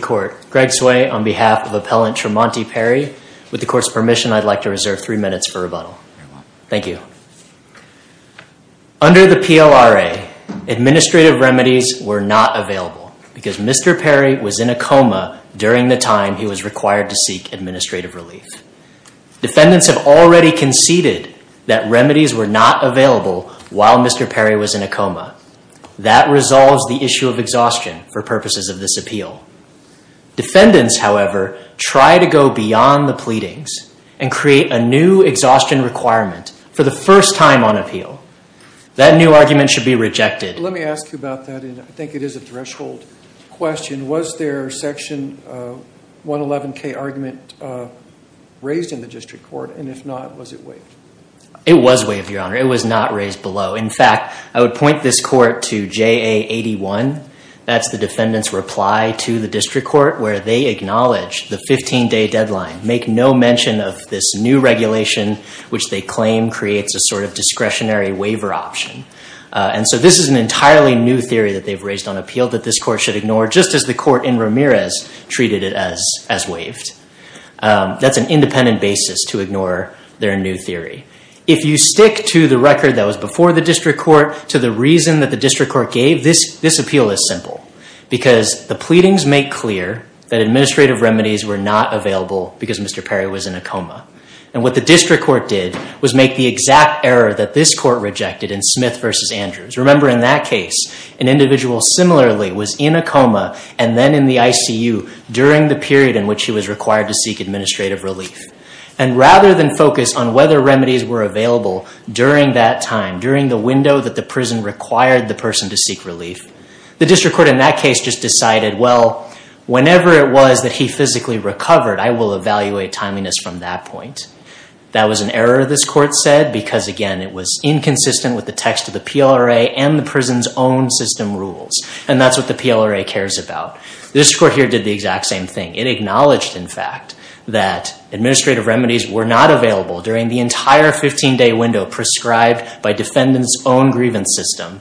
Court. Greg Tsui on behalf of Appellant Tremonti Perry. With the Court's permission I'd like to reserve three minutes for rebuttal. Thank you. Under the PLRA, administrative remedies were not available because Mr. Perry was in a coma during the time he was required to seek administrative relief. Defendants have already conceded that remedies were not available while Mr. Perry was in a coma. Defendants, however, try to go beyond the pleadings and create a new exhaustion requirement for the first time on appeal. That new argument should be rejected. Let me ask you about that and I think it is a threshold question. Was their section 111k argument raised in the District Court and if not was it waived? It was waived, Your Honor. It was not raised below. In fact, I would point this court to JA 81. That's the defendant's reply to the District Court where they acknowledged the 15-day deadline. Make no mention of this new regulation which they claim creates a sort of discretionary waiver option. And so this is an entirely new theory that they've raised on appeal that this court should ignore just as the court in Ramirez treated it as waived. That's an independent basis to ignore their new theory. If you stick to the record that was before the District Court to the reason that the District Court gave, this appeal is simple. Because the pleadings make clear that administrative remedies were not available because Mr. Perry was in a coma. And what the District Court did was make the exact error that this court rejected in Smith v. Andrews. Remember in that case, an individual similarly was in a coma and then in the ICU during the period in which he was required to seek administrative relief. And rather than whether remedies were available during that time, during the window that the prison required the person to seek relief, the District Court in that case just decided, well, whenever it was that he physically recovered, I will evaluate timeliness from that point. That was an error this court said because again, it was inconsistent with the text of the PLRA and the prison's own system rules. And that's what the PLRA cares about. This court here did the exact same thing. It acknowledged, in fact, that administrative remedies were not available during the entire 15-day window prescribed by defendant's own grievance system.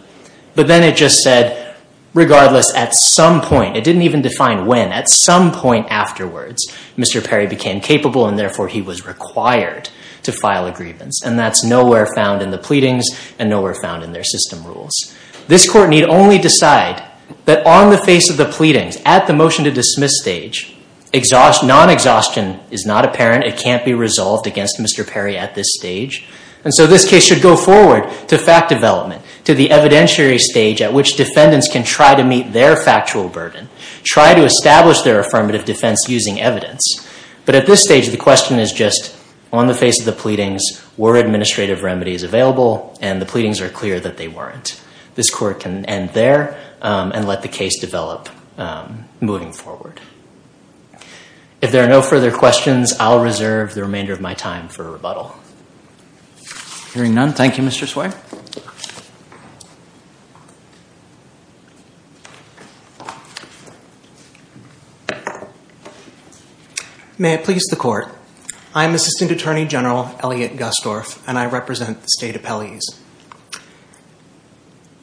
But then it just said, regardless, at some point, it didn't even define when, at some point afterwards, Mr. Perry became capable and therefore he was required to file a grievance. And that's nowhere found in the pleadings and nowhere found in their system rules. This court need only decide that on the face of the pleadings, at the motion to dismiss stage, non-exhaustion is not apparent. It can't be resolved against Mr. Perry at this stage. And so this case should go forward to fact development, to the evidentiary stage at which defendants can try to meet their factual burden, try to establish their affirmative defense using evidence. But at this stage, the question is just, on the face of the pleadings, were administrative remedies available? And the pleadings are clear that they weren't. This court can end there and let the case develop moving forward. If there are no further questions, I'll reserve the remainder of my time for rebuttal. Hearing none, thank you, Mr. Sway. May it please the court. I'm Assistant Attorney General Elliot Gustorf and I represent the state appellees.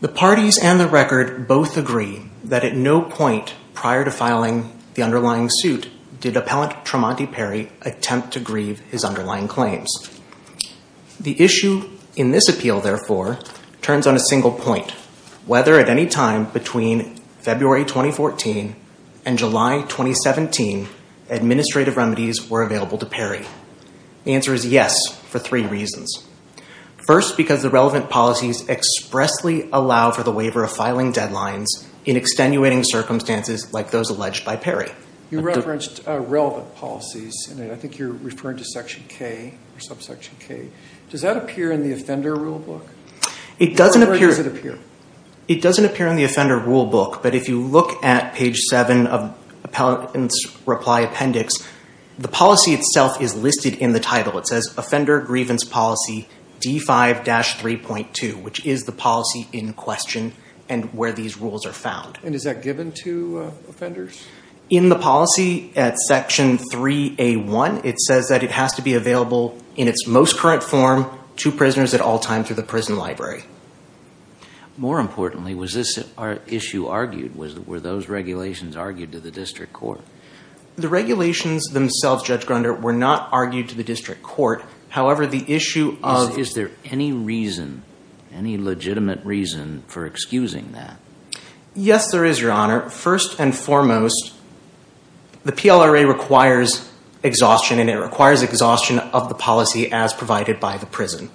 The parties and the record both agree that at no point prior to filing the underlying suit did Appellant Tremonti Perry attempt to grieve his underlying claims. The issue in this appeal, therefore, turns on a single point. Whether at any time between February 2014 and July 2017, administrative remedies were available to Perry. The answer is yes, for three reasons. First, because the relevant policies expressly allow for the waiver of filing deadlines in extenuating circumstances like those alleged by Perry. You referenced relevant policies and I think you're referring to Section K or subsection K. Does that appear in the offender rulebook? It doesn't appear. Where does it appear? It doesn't appear in the offender rulebook, but if you look at page 7 of Appellant's reply appendix, the policy itself is listed in the title. It says, Offender Grievance Policy D5-3.2, which is the policy in question and where these rules are found. And is that given to offenders? In the policy at Section 3A1, it says that it has to be available in its most current form to prisoners at all times through the prison library. More importantly, was this issue argued? Were those regulations argued to the district court? The regulations themselves, Judge Grunder, were not argued to the district court. However, the issue of... Is there any reason, any legitimate reason for excusing that? Yes, there is, Your Honor. First and foremost, the PLRA requires exhaustion and it requires exhaustion of the policy as provided by the prison.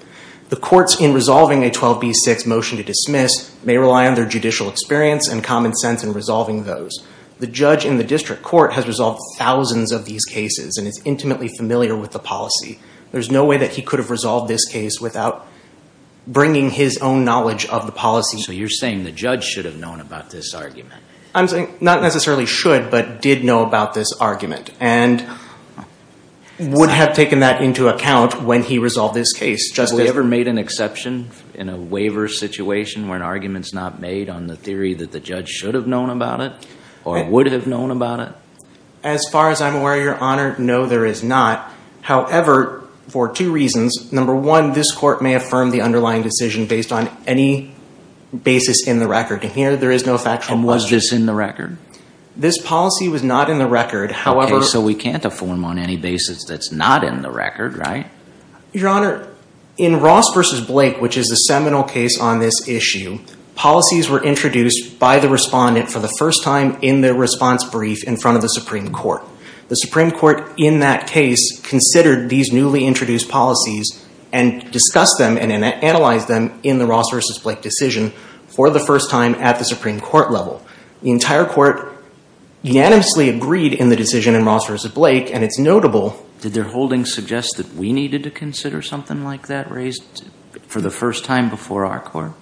The courts, in resolving a 12b-6 motion to dismiss, may rely on their judicial experience and common sense in resolving those. The judge in the district court has resolved thousands of these cases and is intimately familiar with the policy. There's no way that he could have resolved this case without bringing his own knowledge of the policy. So you're saying the judge should have known about this argument? Not necessarily should, but did know about this argument and would have taken that into account when he resolved this case. Has he ever made an exception in a waiver situation where an argument's not made on the theory that the judge should have known about it or would have known about it? As far as I'm aware, Your Honor, no, there is not. However, for two reasons. Number one, this court may affirm the underlying decision based on any basis in the record. And here, there is no factual motion. And was this in the record? This policy was not in the record. Okay, so we can't affirm on any basis that's not in the record, right? Your Honor, in Ross v. Blake, which is a seminal case on this issue, policies were introduced by the respondent for the first time in their response brief in front of the Supreme Court. The Supreme Court, in that case, considered these newly introduced policies and discussed them and analyzed them in the Ross v. Blake decision for the first time at the Supreme Court level. The entire court unanimously agreed in the decision in Ross v. Blake, and it's notable. Did their holding suggest that we needed to consider something like that raised for the first time before our court?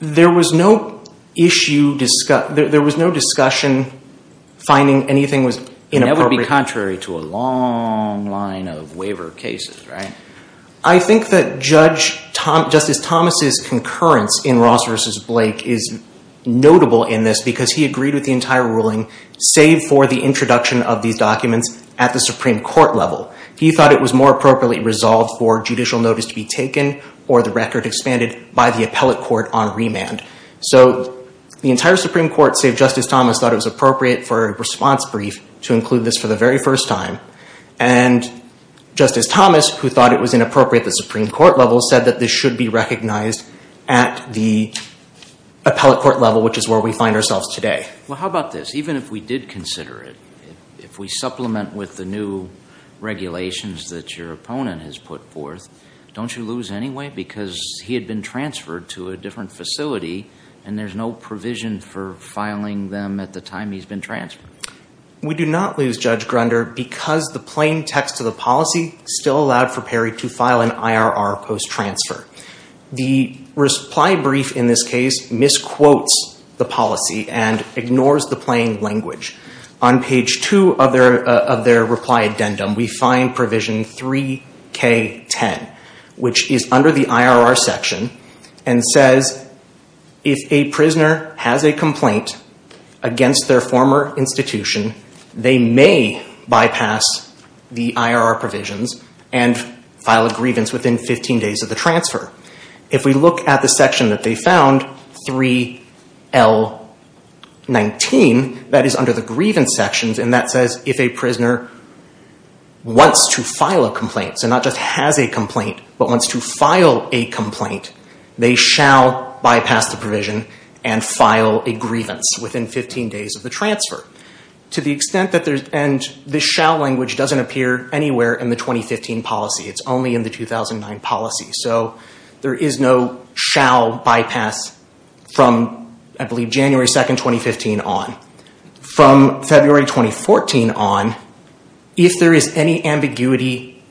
There was no issue, there was no discussion finding anything was inappropriate. That would be contrary to a long line of waiver cases, right? I think that Justice Thomas' concurrence in Ross v. Blake is notable in this because he agreed with the entire ruling, save for the introduction of these documents at the Supreme Court level. He thought it was more appropriately resolved for judicial notice to be taken or the record expanded by the appellate court on remand. So the entire Supreme Court, save Justice Thomas, thought it was appropriate for a response brief to include this for the very first time. And Justice Thomas, who thought it was inappropriate at the Supreme Court level, said that this should be recognized at the appellate court level, which is where we find ourselves today. Well, how about this? Even if we did consider it, if we supplement with the new regulations that your opponent has put forth, don't you lose anyway? Because he had been transferred to a different facility and there's no provision for filing them at the time he's been transferred. We do not lose, Judge Grunder, because the plain text of the policy still allowed for Perry to file an IRR post-transfer. The reply brief in this case misquotes the policy and ignores the plain language. On page 2 of their reply addendum, we find provision 3K10, which is under the IRR section, and says, if a prisoner has a complaint against their former institution, they may bypass the IRR provisions and file a grievance within 15 days of the transfer. If we look at the section that they found, 3L19, that is under the grievance sections, and that says, if a prisoner wants to file a complaint, so not just has a complaint, but wants to file a complaint, they shall bypass the provision and file a grievance within 15 days of the transfer. And this shall language doesn't appear anywhere in the 2015 policy. It's only in the 2009 policy. So there is no shall bypass from, I believe, January 2, 2015 on. From February 2014 on, if there is any ambiguity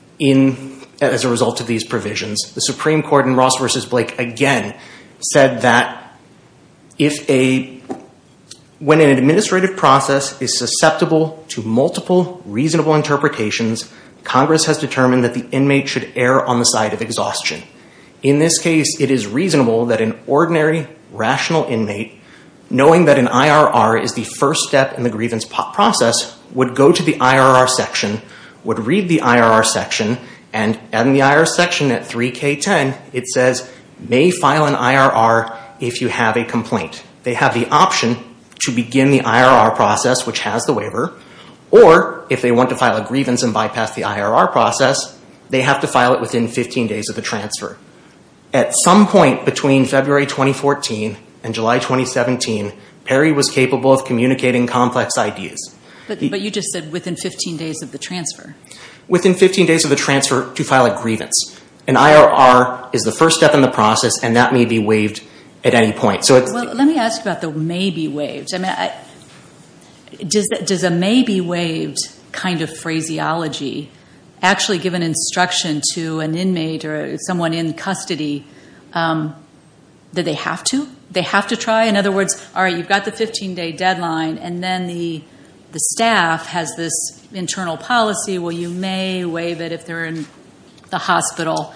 as a result of these provisions, the Supreme Court in Ross v. Blake again said that, when an administrative process is susceptible to multiple reasonable interpretations, Congress has determined that the inmate should err on the side of exhaustion. In this case, it is reasonable that an ordinary, rational inmate, knowing that an IRR is the first step in the grievance process, would go to the IRR section, would read the IRR section, and in the IRR section at 3K10, it says, may file an IRR if you have a complaint. They have the option to begin the IRR process, which has the waiver, or if they want to file a grievance and bypass the IRR process, they have to file it within 15 days of the transfer. At some point between February 2014 and July 2017, Perry was capable of communicating complex ideas. But you just said within 15 days of the transfer. Within 15 days of the transfer to file a grievance. An IRR is the first step in the process, and that may be waived at any point. Let me ask about the may be waived. Does a may be waived kind of phraseology actually give an instruction to an inmate or someone in custody that they have to? They have to try? In other words, all right, you've got the 15 day deadline, and then the staff has this internal policy where you may waive it if they're in the hospital.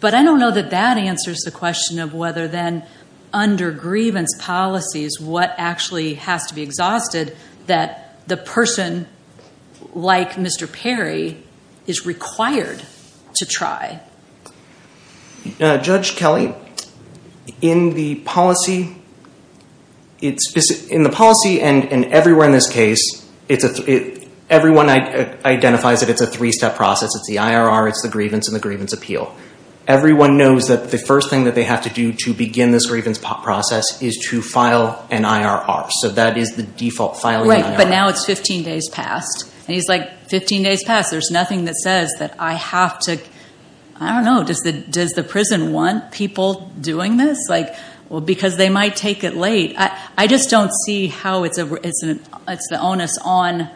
But I don't know that that answers the question of whether then under grievance policies, what actually has to be exhausted that the person like Mr. Perry is required to try. Judge Kelly, in the policy, and everywhere in this case, everyone identifies that it's a three-step process. It's the IRR, it's the grievance, and the grievance appeal. Everyone knows that the first thing that they have to do to begin this grievance process is to file an IRR. So that is the default filing. Right, but now it's 15 days past. And he's like, 15 days past, there's nothing that says that I have to, I don't know, does the prison want people doing this? He's like, well, because they might take it late. I just don't see how it's the onus on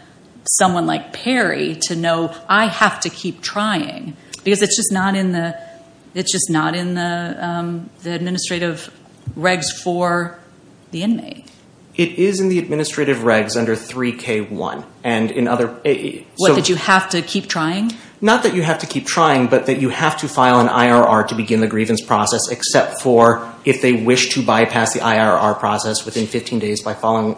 someone like Perry to know I have to keep trying. Because it's just not in the administrative regs for the inmate. It is in the administrative regs under 3K1. What, that you have to keep trying? Not that you have to keep trying, but that you have to file an IRR to begin the grievance process, except for if they wish to bypass the IRR process within 15 days by filing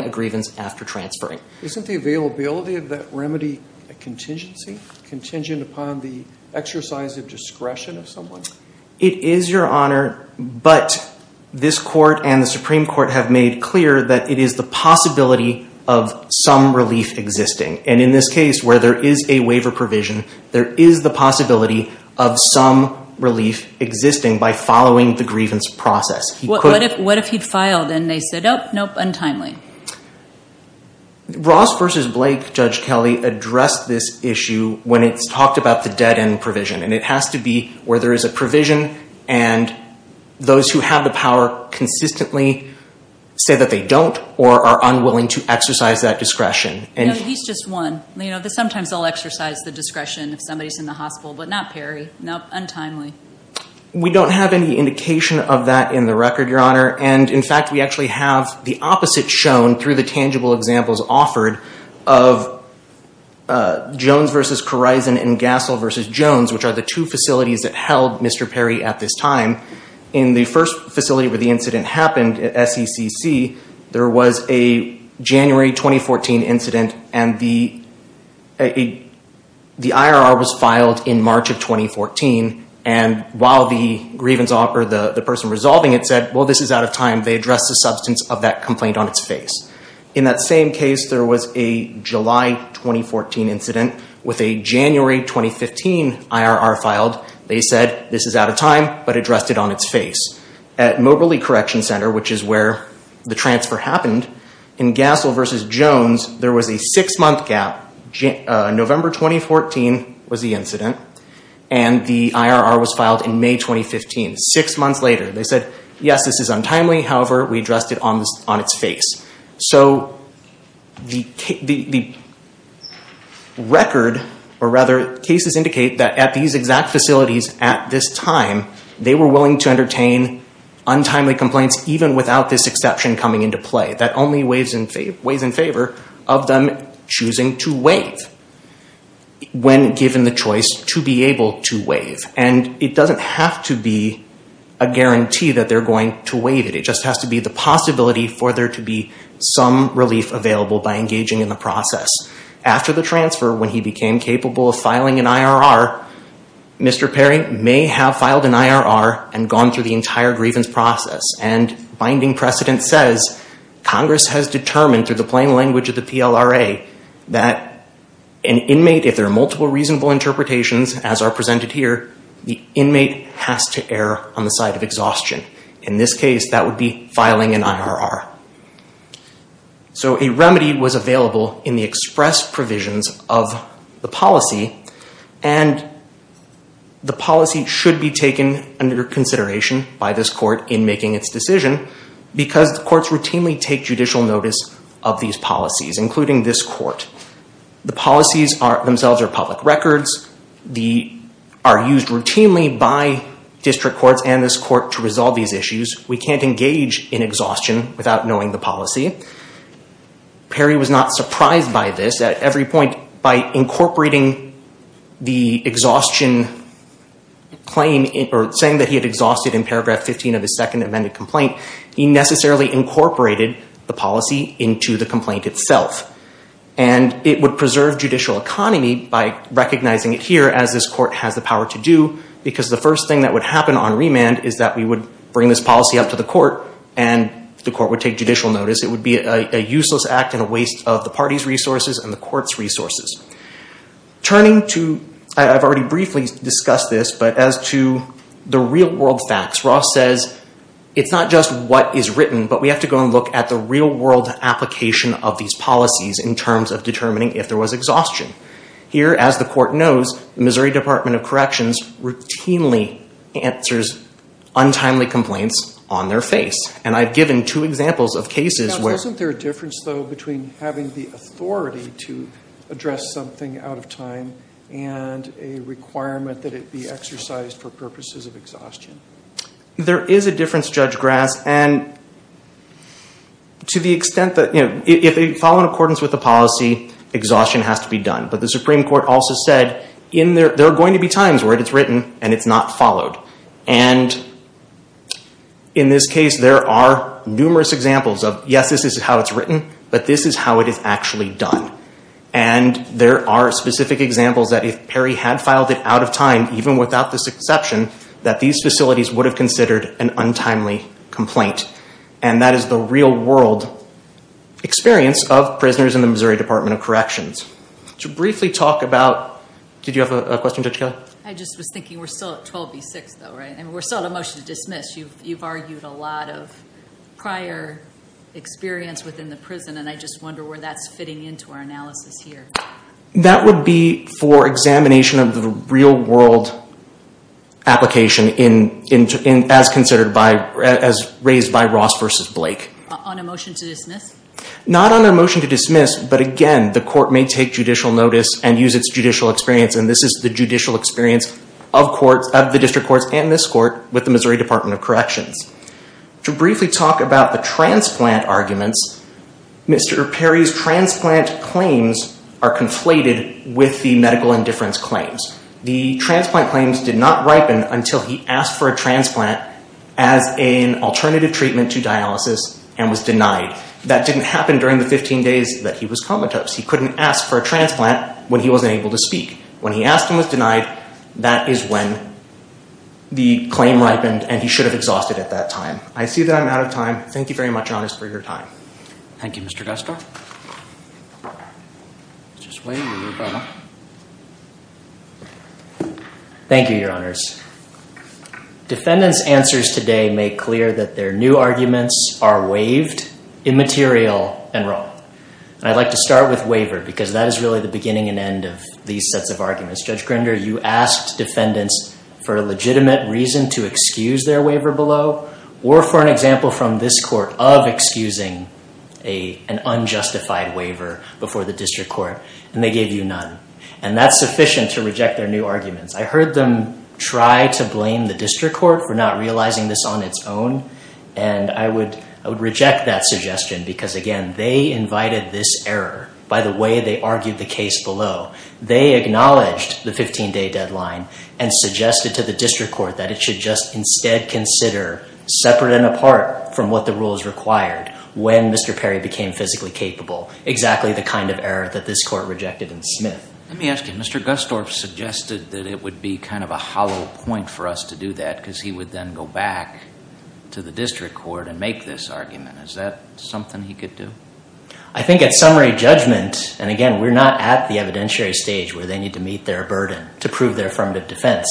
a grievance after transferring. Isn't the availability of that remedy a contingency? Contingent upon the exercise of discretion of someone? It is, Your Honor, but this Court and the Supreme Court have made clear that it is the possibility of somebody, of some relief existing. And in this case, where there is a waiver provision, there is the possibility of some relief existing by following the grievance process. What if he filed and they said, oh, nope, untimely? Ross versus Blake, Judge Kelly addressed this issue when it's talked about the dead-end provision. And it has to be where there is a provision and those who have the power consistently say that they don't or are unwilling to exercise that discretion. No, he's just one. You know, sometimes they'll exercise the discretion if somebody's in the hospital, but not Perry. Nope, untimely. We don't have any indication of that in the record, Your Honor. And, in fact, we actually have the opposite shown through the tangible examples offered of Jones versus Korizon and Gassell versus Jones, which are the two facilities that held Mr. Perry at this time. In the first facility where the incident happened, SECC, there was a January 2014 incident and the IRR was filed in March of 2014. And while the person resolving it said, well, this is out of time, they addressed the substance of that complaint on its face. In that same case, there was a July 2014 incident with a January 2015 IRR filed. They said, this is out of time, but addressed it on its face. At Moberly Correction Center, which is where the transfer happened, in Gassell versus Jones, there was a six-month gap. November 2014 was the incident, and the IRR was filed in May 2015. Six months later, they said, yes, this is untimely. However, we addressed it on its face. So the record, or rather, cases indicate that at these exact facilities at this time, they were willing to entertain untimely complaints even without this exception coming into play. That only weighs in favor of them choosing to waive when given the choice to be able to waive. And it doesn't have to be a guarantee that they're going to waive it. It just has to be the possibility for there to be some relief available by engaging in the process. After the transfer, when he became capable of filing an IRR, Mr. Perry may have filed an IRR and gone through the entire grievance process. And binding precedent says Congress has determined through the plain language of the PLRA that an inmate, if there are multiple reasonable interpretations as are presented here, the inmate has to err on the side of exhaustion. In this case, that would be filing an IRR. So a remedy was available in the express provisions of the policy. And the policy should be taken under consideration by this court in making its decision, because the courts routinely take judicial notice of these policies, including this court. The policies themselves are public records. They are used routinely by district courts and this court to resolve these issues. We can't engage in exhaustion without knowing the policy. Perry was not surprised by this. At every point, by incorporating the exhaustion claim, or saying that he had exhausted in paragraph 15 of his second amended complaint, he necessarily incorporated the policy into the complaint itself. And it would preserve judicial economy by recognizing it here, as this court has the power to do, because the first thing that would happen on remand is that we would bring this policy up to the court, and the court would take judicial notice. Turning to, I've already briefly discussed this, but as to the real world facts, Ross says it's not just what is written, but we have to go and look at the real world application of these policies, in terms of determining if there was exhaustion. Here, as the court knows, the Missouri Department of Corrections routinely answers untimely complaints on their face. And I've given two examples of cases where... Isn't there a difference, though, between having the authority to address something out of time, and a requirement that it be exercised for purposes of exhaustion? There is a difference, Judge Grass, and to the extent that... If they follow in accordance with the policy, exhaustion has to be done. But the Supreme Court also said, there are going to be times where it is written, and it's not followed. And in this case, there are numerous examples of, yes, this is how it's written, but this is how it is actually done. And there are specific examples that if Perry had filed it out of time, even without this exception, that these facilities would have considered an untimely complaint. And that is the real world experience of prisoners in the Missouri Department of Corrections. To briefly talk about... Did you have a question, Judge Kelly? I just was thinking, we're still at 12 v. 6, though, right? We're still at a motion to dismiss. You've argued a lot of prior experience within the prison, and I just wonder where that's fitting into our analysis here. That would be for examination of the real world application, as raised by Ross v. Blake. On a motion to dismiss? Not on a motion to dismiss, but again, the court may take judicial notice and use its judicial experience, and this is the judicial experience of the district courts and this court with the Missouri Department of Corrections. To briefly talk about the transplant arguments, Mr. Perry's transplant claims are conflated with the medical indifference claims. The transplant claims did not ripen until he asked for a transplant as an alternative treatment to dialysis and was denied. That didn't happen during the 15 days that he was comatose. He couldn't ask for a transplant when he wasn't able to speak. When he asked and was denied, that is when the claim ripened, and he should have exhausted it at that time. I see that I'm out of time. Thank you very much, Your Honor, for your time. Thank you, Mr. Guster. Thank you, Your Honors. Defendants' answers today make clear that their new arguments are waived, immaterial, and wrong. I'd like to start with waiver because that is really the beginning and end of these sets of arguments. Judge Grinder, you asked defendants for a legitimate reason to excuse their waiver below or for an example from this court of excusing an unjustified waiver before the district court, and they gave you none, and that's sufficient to reject their new arguments. I heard them try to blame the district court for not realizing this on its own, and I would reject that suggestion because, again, they invited this error by the way they argued the case below. They acknowledged the 15-day deadline and suggested to the district court that it should just instead consider separate and apart from what the rules required when Mr. Perry became physically capable, exactly the kind of error that this court rejected in Smith. Let me ask you, Mr. Gustorf suggested that it would be kind of a hollow point for us to do that because he would then go back to the district court and make this argument. Is that something he could do? I think at summary judgment, and again, we're not at the evidentiary stage where they need to meet their burden to prove their affirmative defense,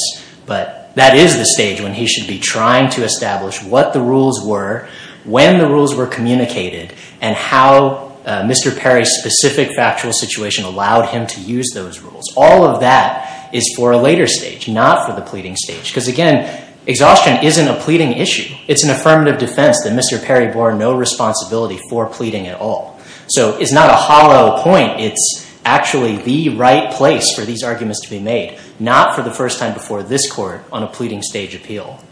but that is the stage when he should be trying to establish what the rules were, when the rules were communicated, and how Mr. Perry's specific factual situation allowed him to use those rules. All of that is for a later stage, not for the pleading stage because, again, exhaustion isn't a pleading issue. It's an affirmative defense that Mr. Perry bore no responsibility for pleading at all. So it's not a hollow point. It's actually the right place for these arguments to be made, not for the first time before this court on a pleading stage appeal.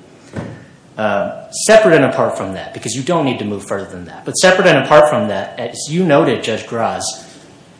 Separate and apart from that, because you don't need to move further than that, but separate and apart from that, as you noted, Judge Graz,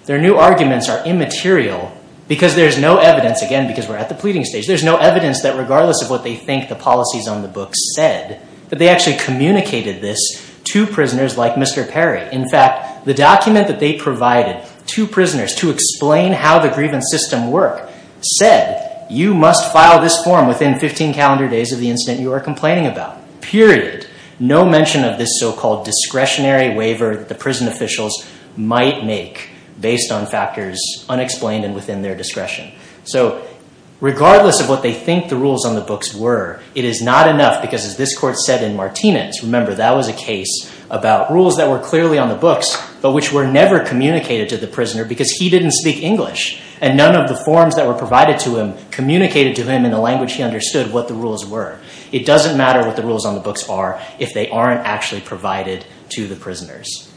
their new arguments are immaterial because there's no evidence, again, because we're at the pleading stage, there's no evidence that regardless of what they think the policies on the books said, that they actually communicated this to prisoners like Mr. Perry. In fact, the document that they provided to prisoners to explain how the grievance system worked said, you must file this form within 15 calendar days of the incident you are complaining about, period. No mention of this so-called discretionary waiver that the prison officials might make based on factors unexplained and within their discretion. So regardless of what they think the rules on the books were, it is not enough because as this court said in Martinez, remember, that was a case about rules that were clearly on the books but which were never communicated to the prisoner because he didn't speak English and none of the forms that were provided to him communicated to him in the language he understood what the rules were. It doesn't matter what the rules on the books are if they aren't actually provided to the prisoners.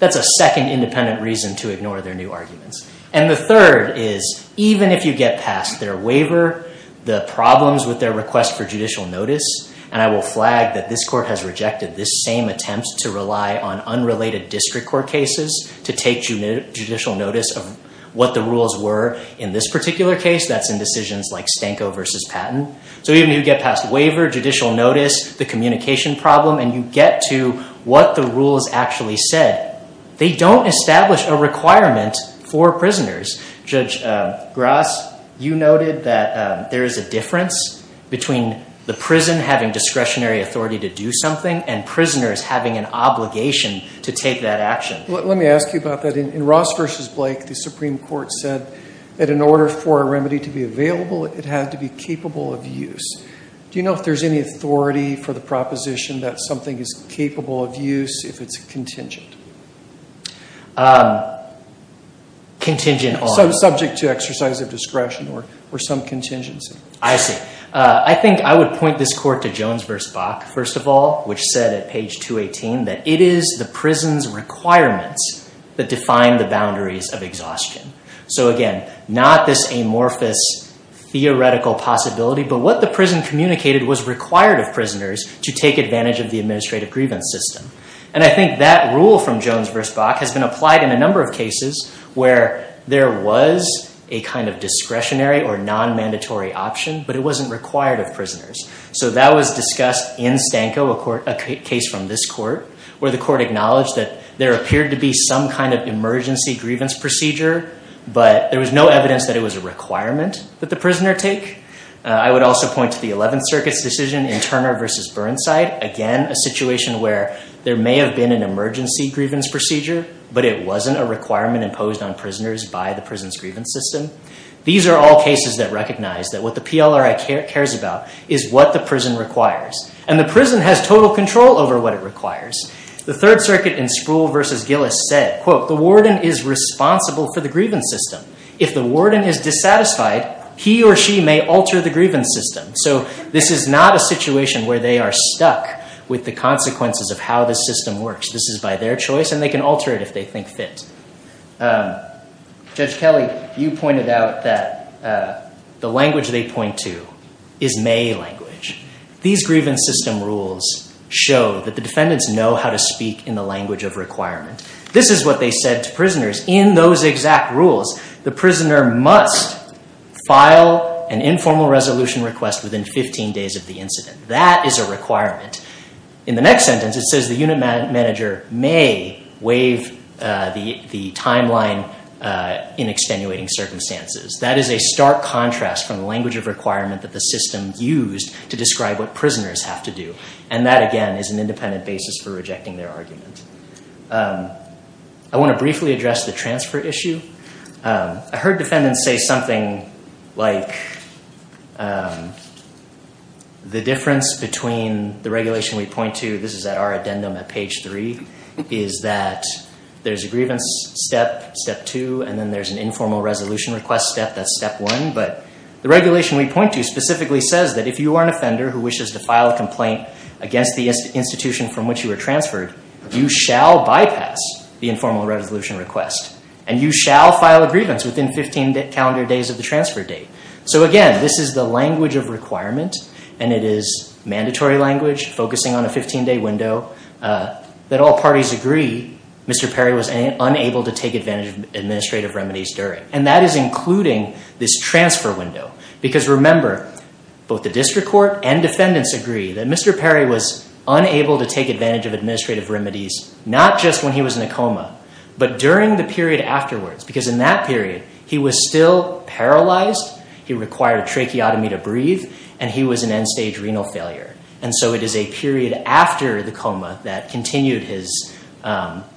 That's a second independent reason to ignore their new arguments. And the third is, even if you get past their waiver, the problems with their request for judicial notice, and I will flag that this court has rejected this same attempt to rely on unrelated district court cases to take judicial notice of what the rules were in this particular case, that's in decisions like Stanko v. Patton. So even if you get past the waiver, judicial notice, the communication problem, and you get to what the rules actually said, they don't establish a requirement for prisoners. Judge Grass, you noted that there is a difference between the prison having discretionary authority to do something and prisoners having an obligation to take that action. Let me ask you about that. In Ross v. Blake, the Supreme Court said that in order for a remedy to be available, it had to be capable of use. Do you know if there's any authority for the proposition that something is capable of use if it's contingent? Contingent on? Subject to exercise of discretion or some contingency. I see. I think I would point this court to Jones v. Bach, first of all, which said at page 218 that it is the prison's requirements that define the boundaries of exhaustion. So again, not this amorphous theoretical possibility, but what the prison communicated was required of prisoners to take advantage of the administrative grievance system. And I think that rule from Jones v. Bach has been applied in a number of cases where there was a kind of discretionary or non-mandatory option, but it wasn't required of prisoners. So that was discussed in Stanko, a case from this court, where the court acknowledged that there appeared to be some kind of emergency grievance procedure, but there was no evidence that it was a requirement that the prisoner take. I would also point to the Eleventh Circuit's decision in Turner v. Burnside, again, a situation where there may have been an emergency grievance procedure, but it wasn't a requirement imposed on prisoners by the prison's grievance system. These are all cases that recognize that what the PLRI cares about is what the prison requires, and the prison has total control over what it requires. The Third Circuit in Spruill v. Gillis said, quote, the warden is responsible for the grievance system. If the warden is dissatisfied, he or she may alter the grievance system. So this is not a situation where they are stuck with the consequences of how the system works. This is by their choice, and they can alter it if they think fit. Judge Kelly, you pointed out that the language they point to is May language. These grievance system rules show that the defendants know how to speak in the language of requirement. This is what they said to prisoners in those exact rules. The prisoner must file an informal resolution request within 15 days of the incident. That is a requirement. In the next sentence, it says the unit manager may waive the timeline in extenuating circumstances. That is a stark contrast from the language of requirement that the system used to describe what prisoners have to do. And that, again, is an independent basis for rejecting their argument. I want to briefly address the transfer issue. I heard defendants say something like the difference between the regulation we point to, this is at our addendum at page three, is that there's a grievance step, step two, and then there's an informal resolution request step, that's step one. But the regulation we point to specifically says that if you are an offender who wishes to file a complaint against the institution from which you were transferred, you shall bypass the informal resolution request, and you shall file a grievance within 15 calendar days of the transfer date. So, again, this is the language of requirement, and it is mandatory language focusing on a 15-day window. That all parties agree, Mr. Perry was unable to take advantage of administrative remedies during. And that is including this transfer window. Because, remember, both the district court and defendants agree that Mr. Perry was unable to take advantage of administrative remedies, not just when he was in a coma, but during the period afterwards. Because in that period, he was still paralyzed, he required tracheotomy to breathe, and he was in end-stage renal failure. And so it is a period after the coma that continued his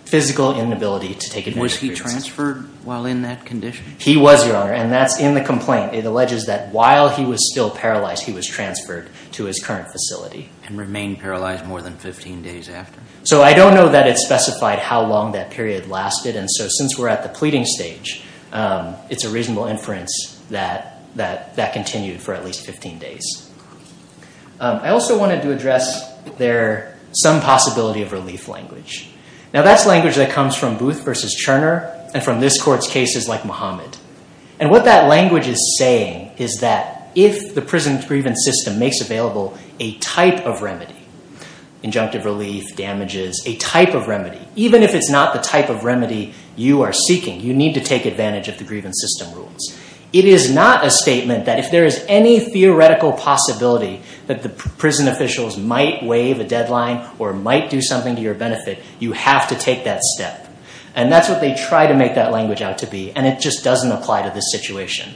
physical inability to take advantage of grievances. Was he transferred while in that condition? He was, Your Honor, and that's in the complaint. It alleges that while he was still paralyzed, he was transferred to his current facility. And remained paralyzed more than 15 days after? So I don't know that it's specified how long that period lasted. And so since we're at the pleading stage, it's a reasonable inference that that continued for at least 15 days. I also wanted to address there some possibility of relief language. Now, that's language that comes from Booth v. Cherner and from this Court's cases like Muhammad. And what that language is saying is that if the prison grievance system makes available a type of remedy, injunctive relief, damages, a type of remedy, even if it's not the type of remedy you are seeking, you need to take advantage of the grievance system rules. It is not a statement that if there is any theoretical possibility that the prison officials might waive a deadline or might do something to your benefit, you have to take that step. And that's what they try to make that language out to be, and it just doesn't apply to this situation.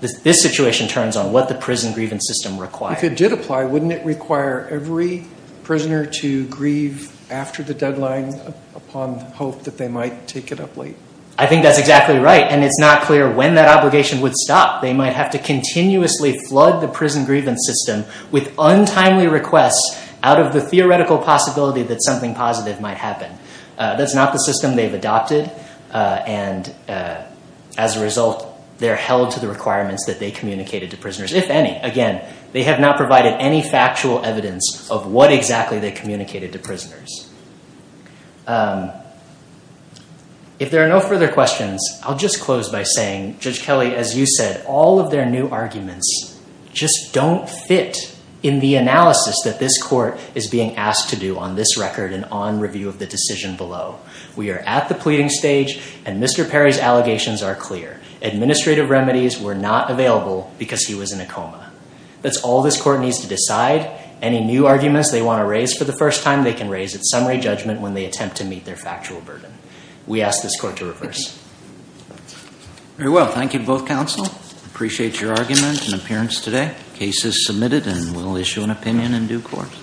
This situation turns on what the prison grievance system requires. If it did apply, wouldn't it require every prisoner to grieve after the deadline upon hope that they might take it up late? I think that's exactly right, and it's not clear when that obligation would stop. They might have to continuously flood the prison grievance system with untimely requests out of the theoretical possibility that something positive might happen. That's not the system they've adopted. And as a result, they're held to the requirements that they communicated to prisoners, if any. Again, they have not provided any factual evidence of what exactly they communicated to prisoners. If there are no further questions, I'll just close by saying, Judge Kelly, as you said, all of their new arguments just don't fit in the analysis that this court is being asked to do on this record and on review of the decision below. We are at the pleading stage, and Mr. Perry's allegations are clear. Administrative remedies were not available because he was in a coma. That's all this court needs to decide. Any new arguments they want to raise for the first time, they can raise at summary judgment when they attempt to meet their factual burden. We ask this court to reverse. Very well. Thank you to both counsel. Appreciate your argument and appearance today. Case is submitted, and we'll issue an opinion in due course.